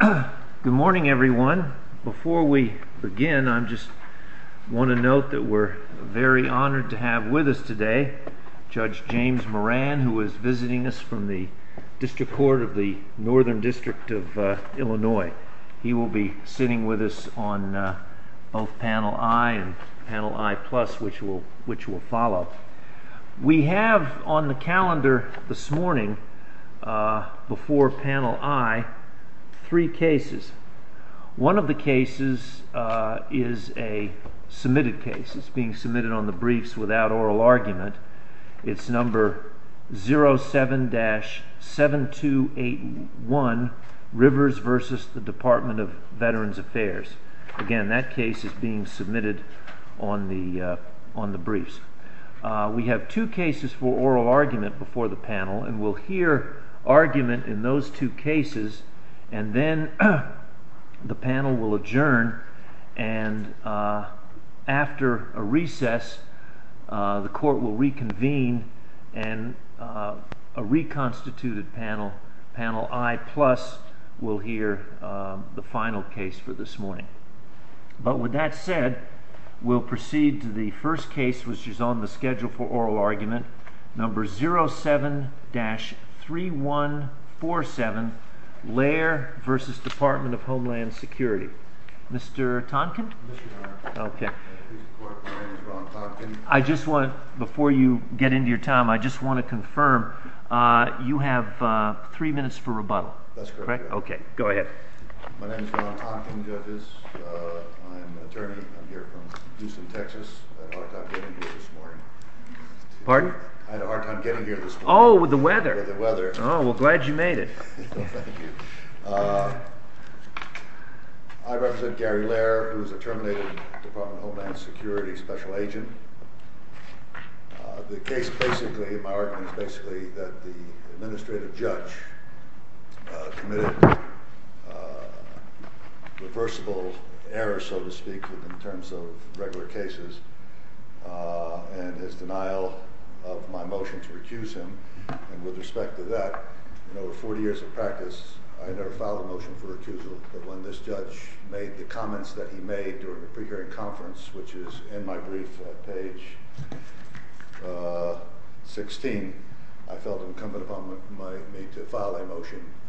Good morning everyone. Before we begin I just want to note that we're very honored to have with us today Judge James Moran who is visiting us from the District Court of the Northern District of Illinois. He will be sitting with us on both panel I and panel I plus which will which will follow. We have on the panel I three cases. One of the cases is a submitted case. It's being submitted on the briefs without oral argument. It's number 07-7281 Rivers v. the Department of Veterans Affairs. Again that case is being submitted on the on the briefs. We have two cases for oral argument before the panel and we'll hear argument in those two cases and then the panel will adjourn and after a recess the court will reconvene and a reconstituted panel panel I plus will hear the final case for this morning. But with that said we'll proceed to the first case which is on the schedule for oral argument number 07-3147 Lair v. Department of Homeland Security. Mr. Tonkin. I just want before you get into your time I just want to confirm you have three minutes for rebuttal. That's correct. Okay Pardon? I had a hard time getting here this morning. Oh with the weather. With the weather. Oh well glad you made it. Thank you. I represent Gary Lair who is a terminated Department of Homeland Security special agent. The case basically my argument is basically that the administrative judge committed reversible error so to speak in terms of regular cases and his denial of my motion to recuse him and with respect to that in over 40 years of practice I never filed a motion for recusal but when this judge made the comments that he made during the pre-hearing conference which is in my brief page 16 I felt incumbent upon me to file a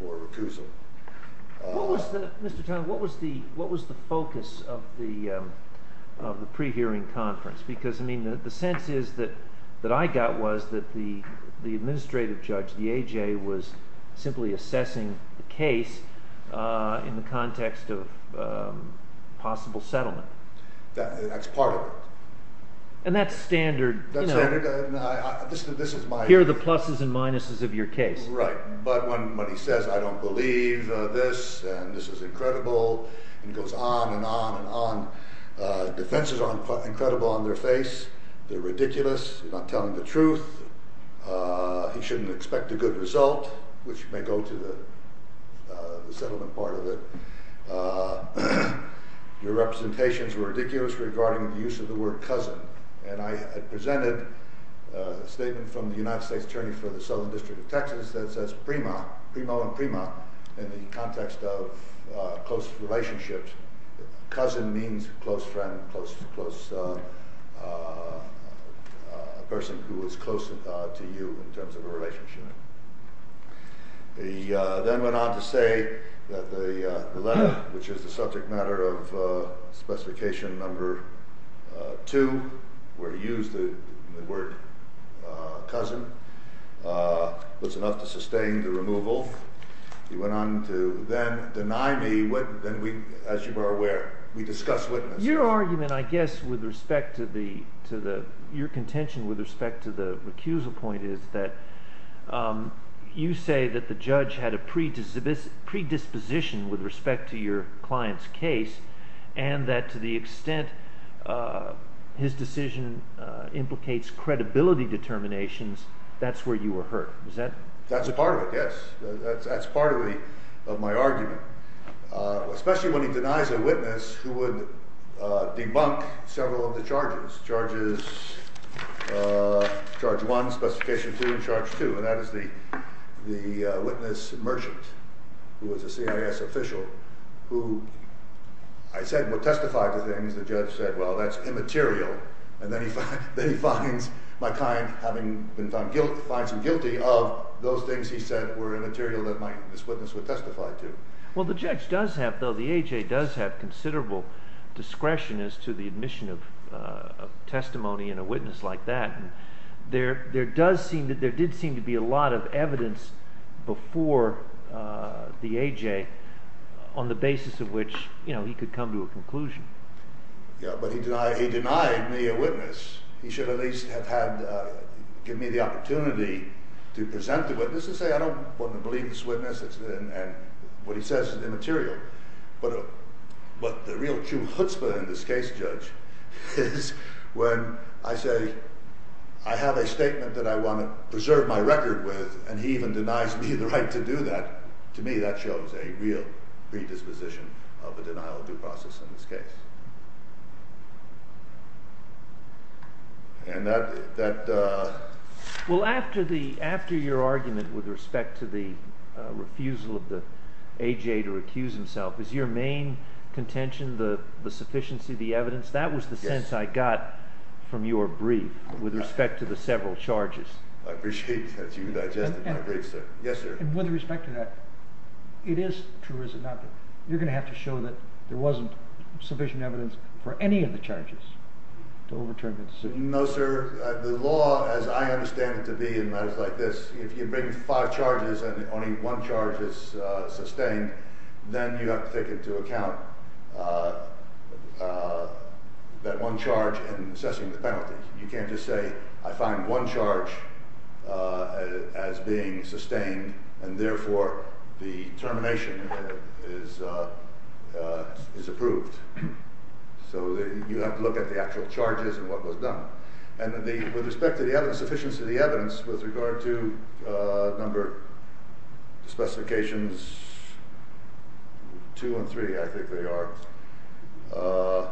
recusal. Mr. Tonkin what was the what was the focus of the of the pre-hearing conference because I mean the sense is that that I got was that the the administrative judge the AJ was simply assessing the case in the context of possible settlement. That's part of it. And that's standard. Here are the people who believe this and this is incredible and goes on and on and on. Defenses are incredible on their face. They're ridiculous. You're not telling the truth. He shouldn't expect a good result which may go to the settlement part of it. Your representations were ridiculous regarding the use of the word cousin and I had presented a statement from the United States Attorney for the Southern in the context of close relationships. Cousin means close friend, close person who is close to you in terms of a relationship. He then went on to say that the letter which is the subject matter of specification number two where he used the word cousin was enough to sustain the removal. He went on to then deny me what then we as you are aware we discuss witness. Your argument I guess with respect to the to the your contention with respect to the recusal point is that you say that the judge had a predisposition with respect to your client's case and that to the extent his decision implicates credibility determinations that's where you were hurt. Is that? That's a part of it yes. That's part of the of my argument especially when he denies a witness who would debunk several of the charges. Charges charge one, specification two, and that is the the witness merchant who was a CIS official who I said would testify to things the judge said well that's immaterial and then he finds my client having been found guilty of those things he said were immaterial that my witness would testify to. Well the judge does have though the AJ does have considerable discretion as to the admission of testimony in a did seem to be a lot of evidence before the AJ on the basis of which you know he could come to a conclusion. Yeah but he denied he denied me a witness he should at least have had give me the opportunity to present the witnesses say I don't want to believe this witness and what he says is immaterial but but the real true chutzpah in this case judge is when I say I have a statement that I want to preserve my record with and he even denies me the right to do that to me that shows a real predisposition of a denial of due process in this case and that that well after the after your argument with respect to the refusal of the AJ to recuse himself is your main contention the the sufficiency the evidence that was the sense I got from your brief with respect to the several charges. I appreciate that you digested my brief sir. Yes sir. With respect to that it is true is it not you're gonna have to show that there wasn't sufficient evidence for any of the charges to overturn the decision. No sir the law as I understand it to be in matters like this if you bring five charges and only one charge is sustained then you have to take into account that one charge and assessing the penalty you can't just say I find one charge as being sustained and therefore the termination is is approved so you have to look at the actual charges and what was done and the with respect to the evidence sufficiency of the evidence with regard to number specifications two and three I think they are the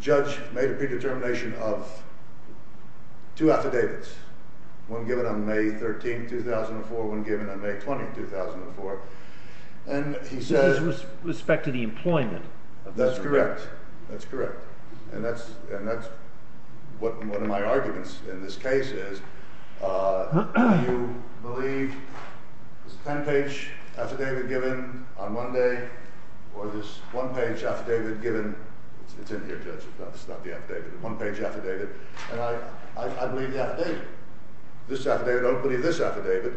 judge made a predetermination of two affidavits one given on May 13 2004 one given on May 20 2004 and he says respect to the employment that's correct that's in this case is you believe ten page affidavit given on Monday or this one page affidavit given it's in here judge it's not the affidavit one page affidavit and I believe the affidavit this affidavit I don't believe this affidavit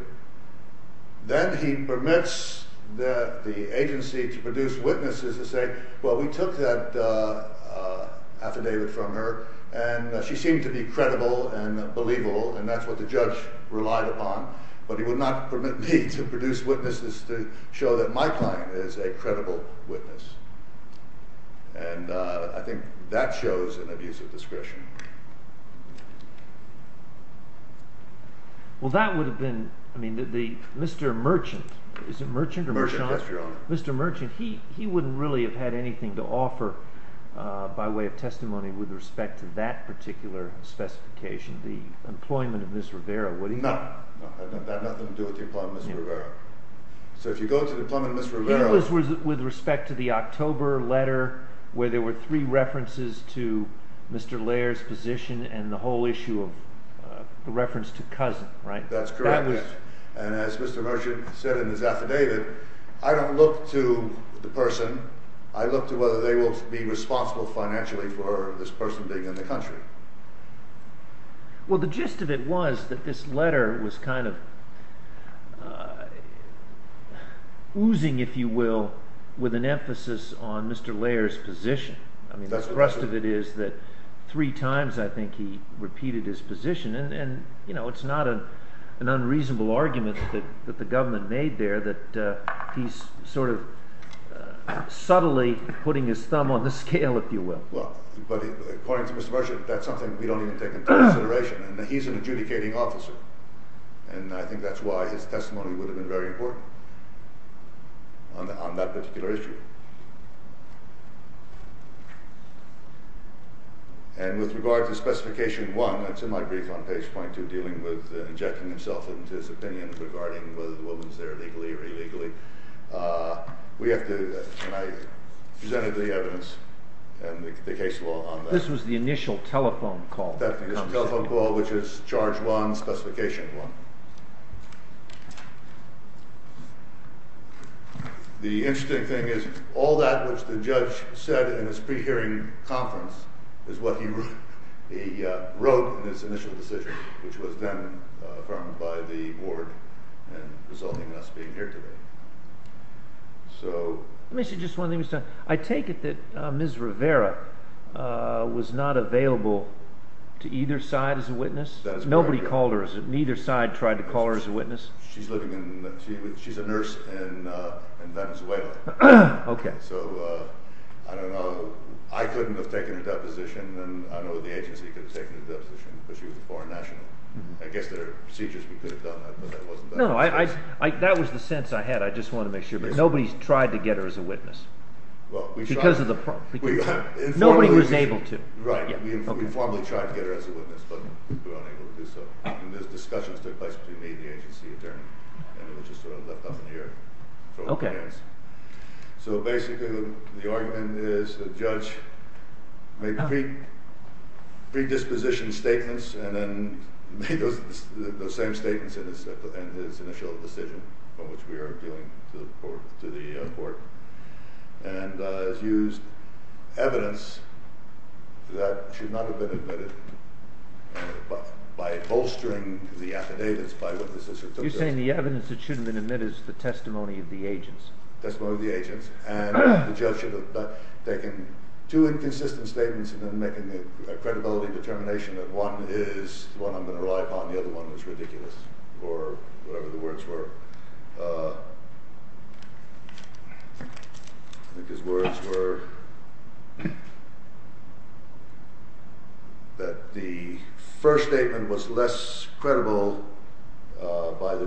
then he permits that the agency to produce witnesses to say well we took that affidavit from her and she seemed to be credible and believable and that's what the judge relied upon but he would not permit me to produce witnesses to show that my client is a credible witness and I think that shows an abuse of discretion. Well that would have been I mean did the Mr. Merchant is it Merchant Mr. Merchant he he wouldn't really have had anything to offer by way of testimony with respect to that particular specification the employment of Ms. Rivera would he? No, it had nothing to do with the employment of Ms. Rivera. So if you go to the employment of Ms. Rivera. It was with respect to the October letter where there were three references to Mr. Laird's position and the whole issue of the reference to affidavit I don't look to the person I look to whether they will be responsible financially for this person being in the country. Well the gist of it was that this letter was kind of oozing if you will with an emphasis on Mr. Laird's position I mean that's the rest of it is that three times I think he repeated his position and you know it's not an unreasonable argument that the government made there that he's sort of subtly putting his thumb on the scale if you will. Well according to Mr. Merchant that's something we don't even take into consideration and he's an adjudicating officer and I think that's why his testimony would have been very important on that particular issue and with regard to specification one that's in my brief on page point two dealing with injecting himself into his opinion regarding whether the woman is there legally or illegally. We have to, and I presented the evidence and the case law on that. This was the initial telephone call. That was the initial telephone call which is charge one, specification one. The interesting thing is all that which the judge said in his pre-hearing conference is what he wrote in his initial decision which was then affirmed by the board and resulting in us being here today. I take it that Ms. Rivera was not available to either side as a witness? Nobody called her, neither side tried to call her as a witness? She's a nurse in Venezuela. So I don't know, I couldn't have taken her deposition and I know the agency could have taken her deposition because she was a foreign national. I guess there are procedures we could have done but that wasn't done. That was the sense I had, I just wanted to make sure, but nobody tried to get her as a witness? Nobody was able to? Right, we formally tried to get her as a witness but were unable to do so. There were discussions that took place between me and the agency attorney and it was just sort of left up in the air. So basically the argument is the judge made predisposition statements and then made those same statements in his initial decision from which we are appealing to the board and used evidence that should not have been admitted by bolstering the affidavits by witnesses. You're saying the evidence that should have been admitted is the testimony of the agents? By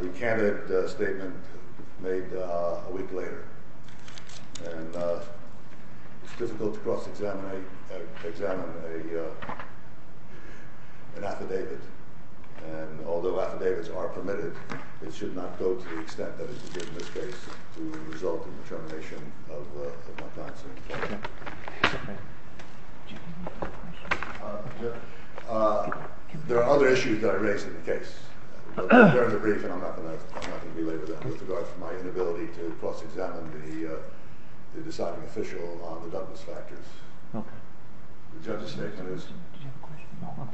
the candidate statement made a week later. It's difficult to cross examine an affidavit and although affidavits are permitted, it should not go to the extent that it did in this case to result in the termination of Montanza. There are other issues that I raised in the case, but they're in the brief and I'm not going to belabor them with regard to my inability to cross examine the deciding official on the Douglas factors. Did you have a question? No, I'm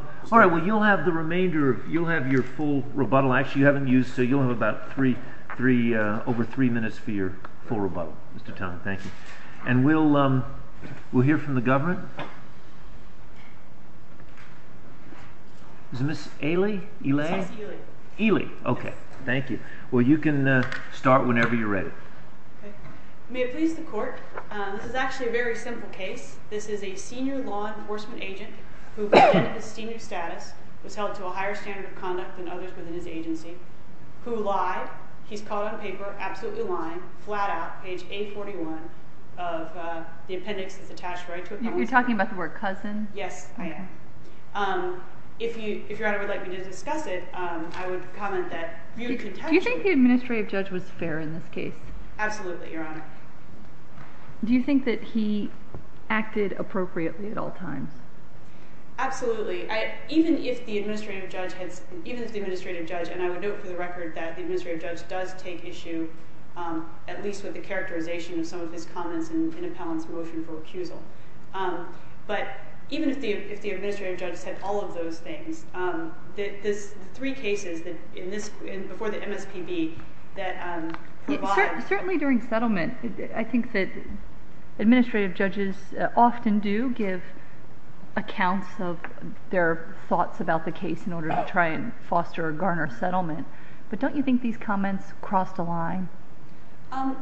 fine. All right, well you'll have the remainder, you'll have your full rebuttal, actually you haven't used, so you'll have about three, over three minutes for your full rebuttal, Mr. Tong, thank you. And we'll hear from the government. Is it Ms. Ely? Yes, Ely. Ely, okay, thank you. Well you can start whenever you're ready. May it please the court, this is actually a very simple case, this is a senior law enforcement agent who, in his senior status, was held to a higher standard of conduct than others within his agency, who lied, he's caught on paper, absolutely lying, flat out, page 841 of the appendix that's attached right to it. You're talking about the word cousin? Yes, I am. If your honor would like me to discuss it, I would comment that. Do you think the administrative judge was fair in this case? Absolutely, your honor. Do you think that he acted appropriately at all times? Absolutely, even if the administrative judge, and I would note for the record that the administrative judge does take issue, at least with the characterization of some of his comments in Appellant's motion for recusal. But even if the administrative judge said all of those things, the three cases before the MSPB that provide... Certainly during settlement, I think that administrative judges often do give accounts of their thoughts about the case in order to try and foster or garner settlement, but don't you think these comments crossed a line?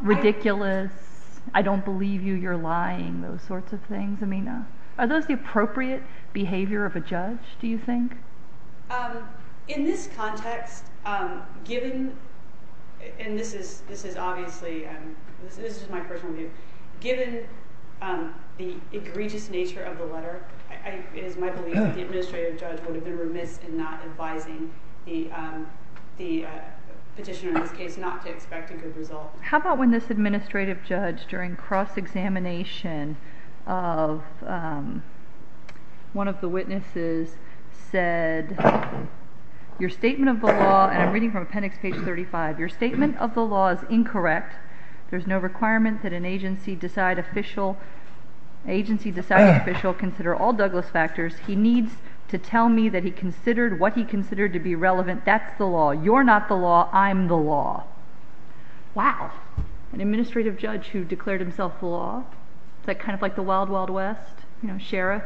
Ridiculous, I don't believe you, you're lying, those sorts of things, Amina. Are those the appropriate behavior of a judge, do you think? In this context, given, and this is obviously, this is just my personal view, given the egregious nature of the letter, it is my belief that the administrative judge would have been remiss in not advising the petitioner in this case not to expect a good result. How about when this administrative judge during cross-examination of one of the witnesses said, your statement of the law, and I'm reading from appendix page 35, your statement of the law is incorrect, there's no requirement that an agency decide official, agency decide official consider all Douglas factors, he needs to tell me that he considered what he considered to be relevant, that's the law, you're not the law, I'm the law. Wow, an administrative judge who declared himself the law, is that kind of like the wild, wild west, sheriff?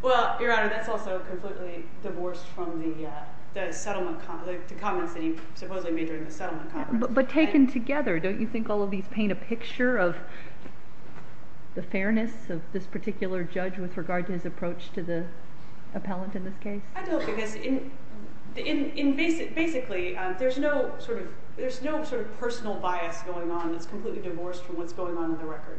Well, your honor, that's also completely divorced from the settlement, the comments that he supposedly made during the settlement conference. But taken together, don't you think all of these paint a picture of the fairness of this particular judge with regard to his approach to the appellant in this case? I don't, because basically, there's no sort of personal bias going on, it's completely divorced from what's going on in the record.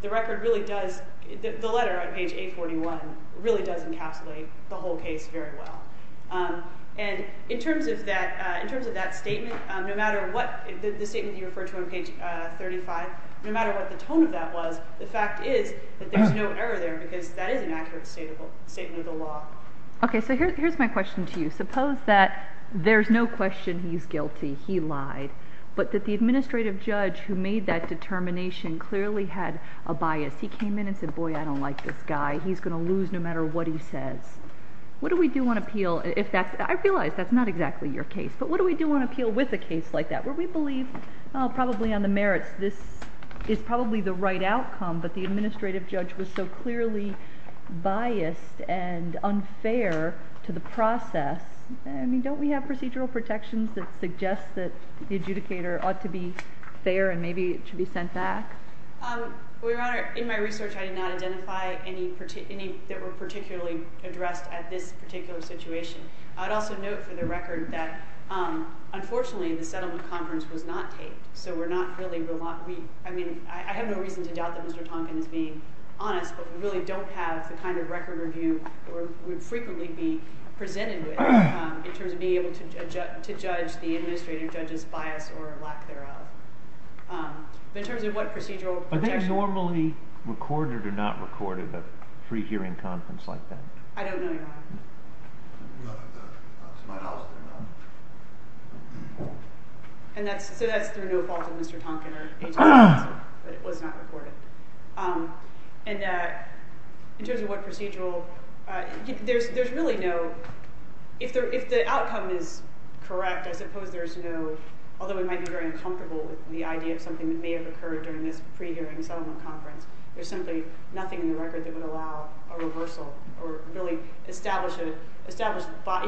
The record really does, the letter on page 841, really does encapsulate the whole case very well. And in terms of that statement, no matter what, the statement you referred to on page 35, no matter what the tone of that was, the fact is that there's no error there, because that is an accurate statement of the law. Okay, so here's my question to you. Suppose that there's no question he's guilty, he lied, but that the administrative judge who made that determination clearly had a bias. He came in and said, boy, I don't like this guy, he's going to lose no matter what he says. What do we do on appeal, if that's, I realize that's not exactly your case, but what do we do on appeal with a case like that? Where we believe, probably on the merits, this is probably the right outcome, but the administrative judge was so clearly biased and unfair to the process. I mean, don't we have procedural protections that suggest that the adjudicator ought to be fair and maybe it should be sent back? Your Honor, in my research, I did not identify any that were particularly addressed at this particular situation. I'd also note for the record that, unfortunately, the settlement conference was not taped, so we're not really, I mean, I have no reason to doubt that Mr. Tonkin is being honest, but we really don't have the kind of record review that would frequently be presented with in terms of being able to judge the administrative judge's bias or lack thereof. But in terms of what procedural protections... Are they normally recorded or not recorded, a free hearing conference like that? I don't know, Your Honor. We'll have to find out. So that's through no fault of Mr. Tonkin or Agent Robinson, but it was not recorded. And in terms of what procedural... There's really no... If the outcome is correct, I suppose there's no... Although we might be very uncomfortable with the idea of something that may have occurred during this pre-hearing settlement conference, there's simply nothing in the record that would allow a reversal or really establish a...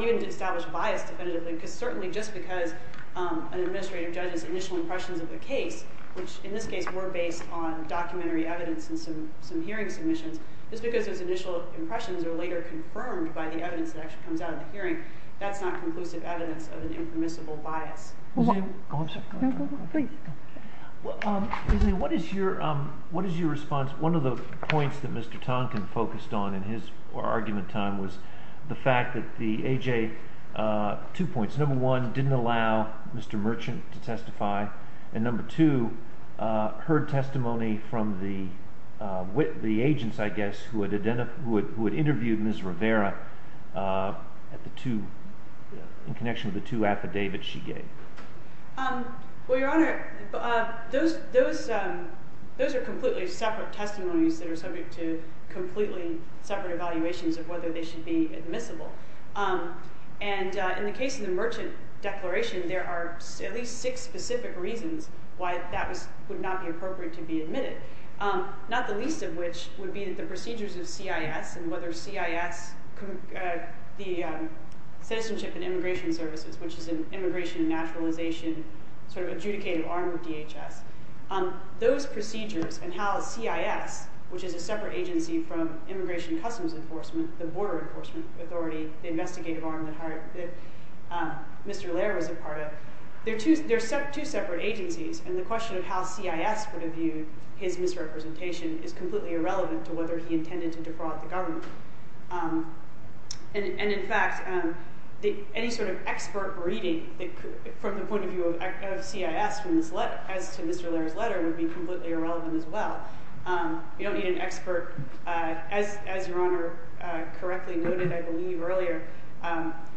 Even to establish bias definitively, because certainly just because an administrative judge's initial impressions of the case, which in this case were based on documentary evidence and some hearing submissions, just because those initial impressions are later confirmed by the evidence that actually comes out of the hearing, that's not conclusive evidence of an impermissible bias. I'm sorry. What is your response? One of the points that Mr. Tonkin focused on in his argument time was the fact that the AJ... Two points. Number one, didn't allow Mr. Merchant to testify. And number two, heard testimony from the agents, I guess, who had interviewed Ms. Rivera in connection with the two affidavits she gave. Well, Your Honor, those are completely separate testimonies that are subject to completely separate evaluations of whether they should be admissible. And in the case of the Merchant Declaration, there are at least six specific reasons why that would not be appropriate to be admitted, not the least of which would be that the procedures of CIS and whether CIS, the Citizenship and Immigration Services, which is an immigration and naturalization sort of adjudicated arm of DHS, those procedures and how CIS, which is a separate agency from Immigration Customs Enforcement, the border enforcement authority, the investigative arm that Mr. Lehrer was a part of, there are two separate agencies. And the question of how CIS would have viewed his misrepresentation is completely irrelevant to whether he intended to defraud the government. And in fact, any sort of expert reading from the point of view of CIS as to Mr. Lehrer's letter would be completely irrelevant as well. You don't need an expert. As Your Honor correctly noted, I believe, earlier,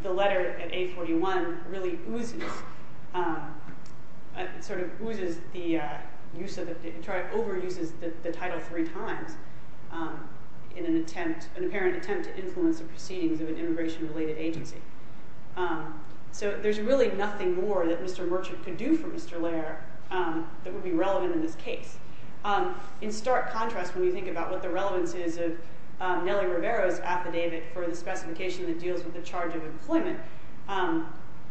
the letter at 841 really oozes, sort of oozes the use of it, overuses the title three times in an attempt, an apparent attempt to influence the proceedings of an immigration-related agency. So there's really nothing more that Mr. Merchant could do for Mr. Lehrer that would be relevant in this case. In stark contrast, when you think about what the relevance is of Nelly Rivera's affidavit for the specification that deals with the charge of employment,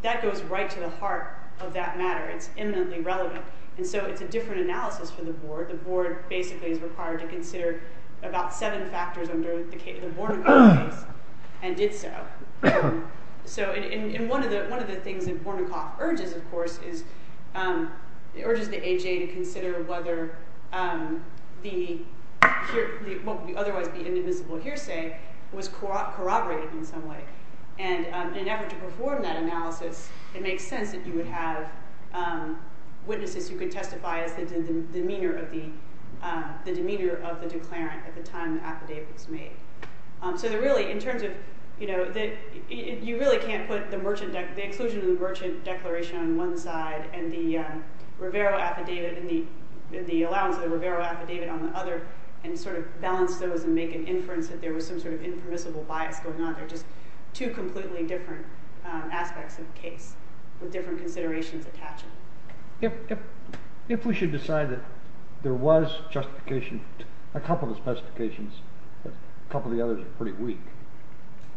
that goes right to the heart of that matter. It's eminently relevant. And so it's a different analysis for the board. The board basically is required to consider about seven factors under the Bornacoff case and did so. So in one of the things that Bornacoff urges, of course, is it urges the A.J. to consider whether the otherwise be inadmissible hearsay was corroborated in some way. And in an effort to perform that analysis, it makes sense that you would have witnesses who could testify as the demeanor of the declarant at the time the affidavit was made. So really, in terms of you really can't put the exclusion of the Merchant declaration on one side and the Rivera affidavit and the allowance of the Rivera affidavit on the other and sort of balance those and make an inference that there was some sort of impermissible bias going on. They're just two completely different aspects of the case with different considerations attached. If we should decide that there was justification, a couple of specifications, a couple of the others are pretty weak,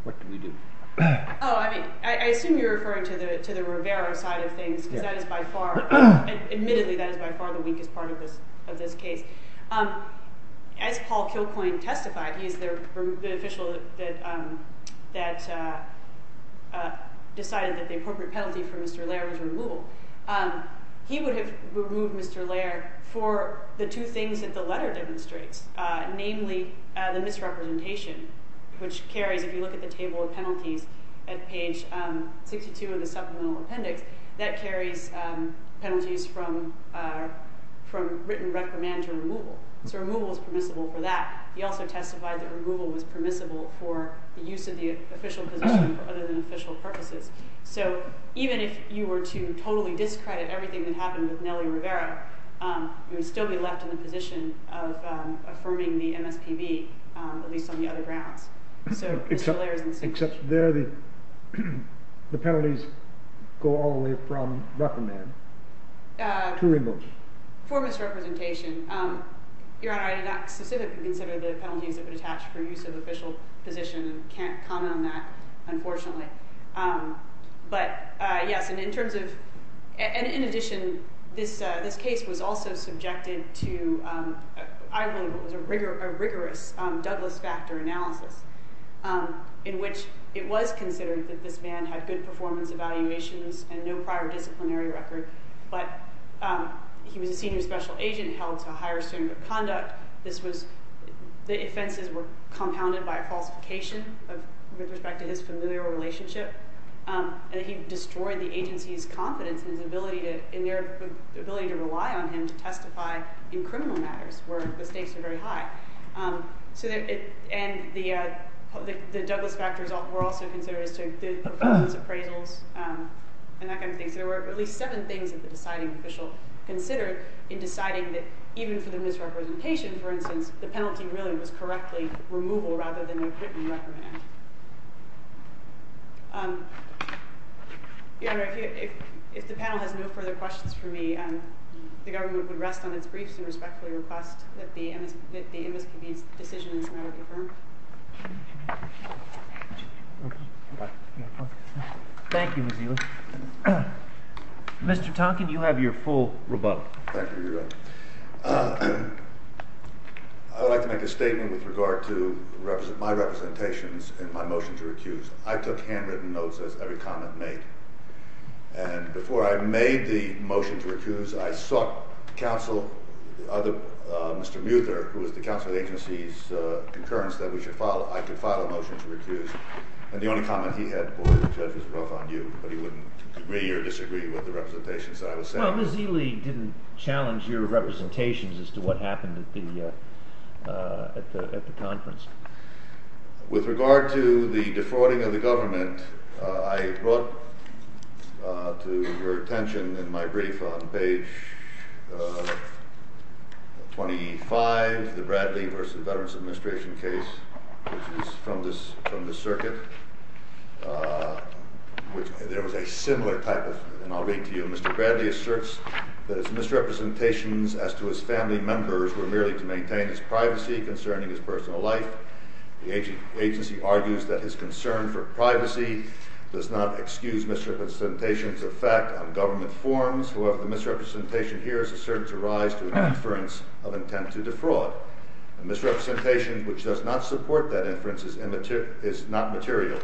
what do we do? Oh, I mean, I assume you're referring to the Rivera side of things because that is by far, admittedly, that is by far the weakest part of this case. As Paul Kilcoyne testified, he is the official that decided that the appropriate penalty for Mr. Lair was removal. He would have removed Mr. Lair for the two things that the letter demonstrates, namely the misrepresentation, which carries, if you look at the table of penalties at page 62 of the supplemental appendix, that carries penalties from written recommend to removal. So removal is permissible for that. He also testified that removal was permissible for the use of the official position for other than official purposes. So even if you were to totally discredit everything that happened with Nelly Rivera, you would still be left in the position of affirming the MSPB, at least on the other grounds. Except there the penalties go all the way from recommend to removal. For misrepresentation. Your Honor, I did not specifically consider the penalties that would attach for use of official position and can't comment on that, unfortunately. In addition, this case was also subjected to a rigorous Douglas factor analysis, in which it was considered that this man had good performance evaluations and no prior disciplinary record. But he was a senior special agent held to a higher standard of conduct. The offenses were compounded by a falsification with respect to his familial relationship. And he destroyed the agency's confidence in their ability to rely on him to testify in criminal matters, where the stakes were very high. And the Douglas factors were also considered as to good performance appraisals and that kind of thing. So there were at least seven things that the deciding official considered in deciding that even for the misrepresentation, for instance, the penalty really was correctly removal rather than a written recommend. Your Honor, if the panel has no further questions for me, the government would rest on its briefs and respectfully request that the MSPB's decision is now confirmed. Thank you, Ms. Ely. Mr. Tonkin, you have your full rebuttal. Thank you, Your Honor. I would like to make a statement with regard to my representations and my motion to recuse. I took handwritten notes as every comment made. And before I made the motion to recuse, I sought counsel, Mr. Muther, who was the counsel of the agency's concurrence that I could file a motion to recuse. And the only comment he had, boy, the judge was rough on you, but he wouldn't agree or disagree with the representations that I was saying. Well, Ms. Ely didn't challenge your representations as to what happened at the conference. With regard to the defrauding of the government, I brought to your attention in my brief on page 25, the Bradley v. Veterans Administration case, which is from the circuit. There was a similar type of – and I'll read to you. Mr. Bradley asserts that his misrepresentations as to his family members were merely to maintain his privacy concerning his personal life. The agency argues that his concern for privacy does not excuse misrepresentations of fact on government forms. However, the misrepresentation here is asserted to rise to an inference of intent to defraud. A misrepresentation which does not support that inference is not material.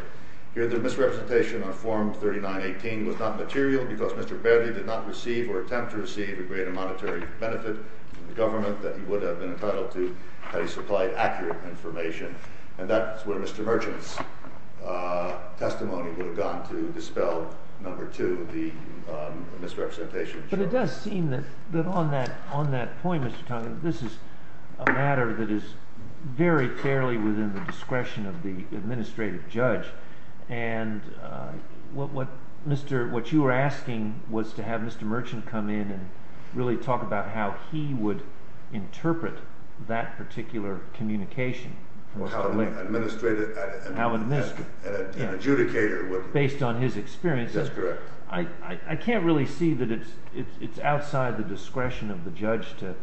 Here, the misrepresentation on Form 3918 was not material because Mr. Bradley did not receive or attempt to receive a greater monetary benefit from the government that he would have been entitled to had he supplied accurate information. And that's where Mr. Merchant's testimony would have gone to dispel, number two, the misrepresentation. But it does seem that on that point, Mr. Conley, this is a matter that is very clearly within the discretion of the administrative judge. And what you were asking was to have Mr. Merchant come in and really talk about how he would interpret that particular communication. Or how an administrator and an adjudicator would. Based on his experience. That's correct. I can't really see that it's outside the discretion of the judge to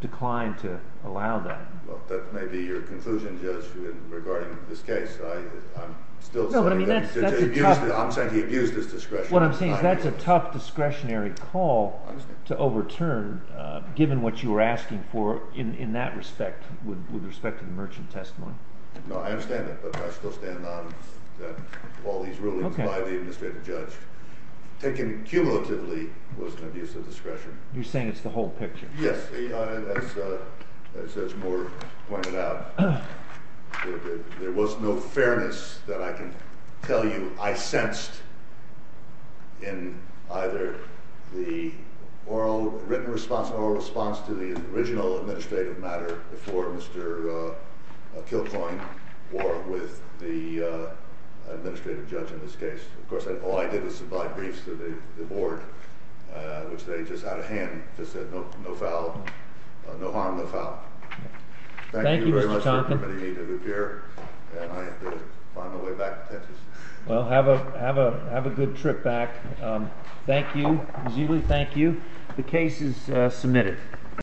decline to allow that. That may be your conclusion, Judge, regarding this case. I'm saying he abused his discretion. What I'm saying is that's a tough discretionary call to overturn given what you were asking for in that respect with respect to the Merchant testimony. No, I understand that. But I still stand on that all these rulings by the administrative judge, taken cumulatively, was an abuse of discretion. You're saying it's the whole picture. Yes. As Moore pointed out, there was no fairness that I can tell you I sensed in either the oral written response or response to the original administrative matter before Mr. Kilcoyne or with the administrative judge in this case. Of course, all I did was supply briefs to the board, which they just out of hand just said no foul, no harm, no foul. Thank you, Mr. Tompkins. Thank you very much for letting me appear. And I have to find my way back to Texas. Well, have a good trip back. Thank you. Zulu, thank you. The case is submitted.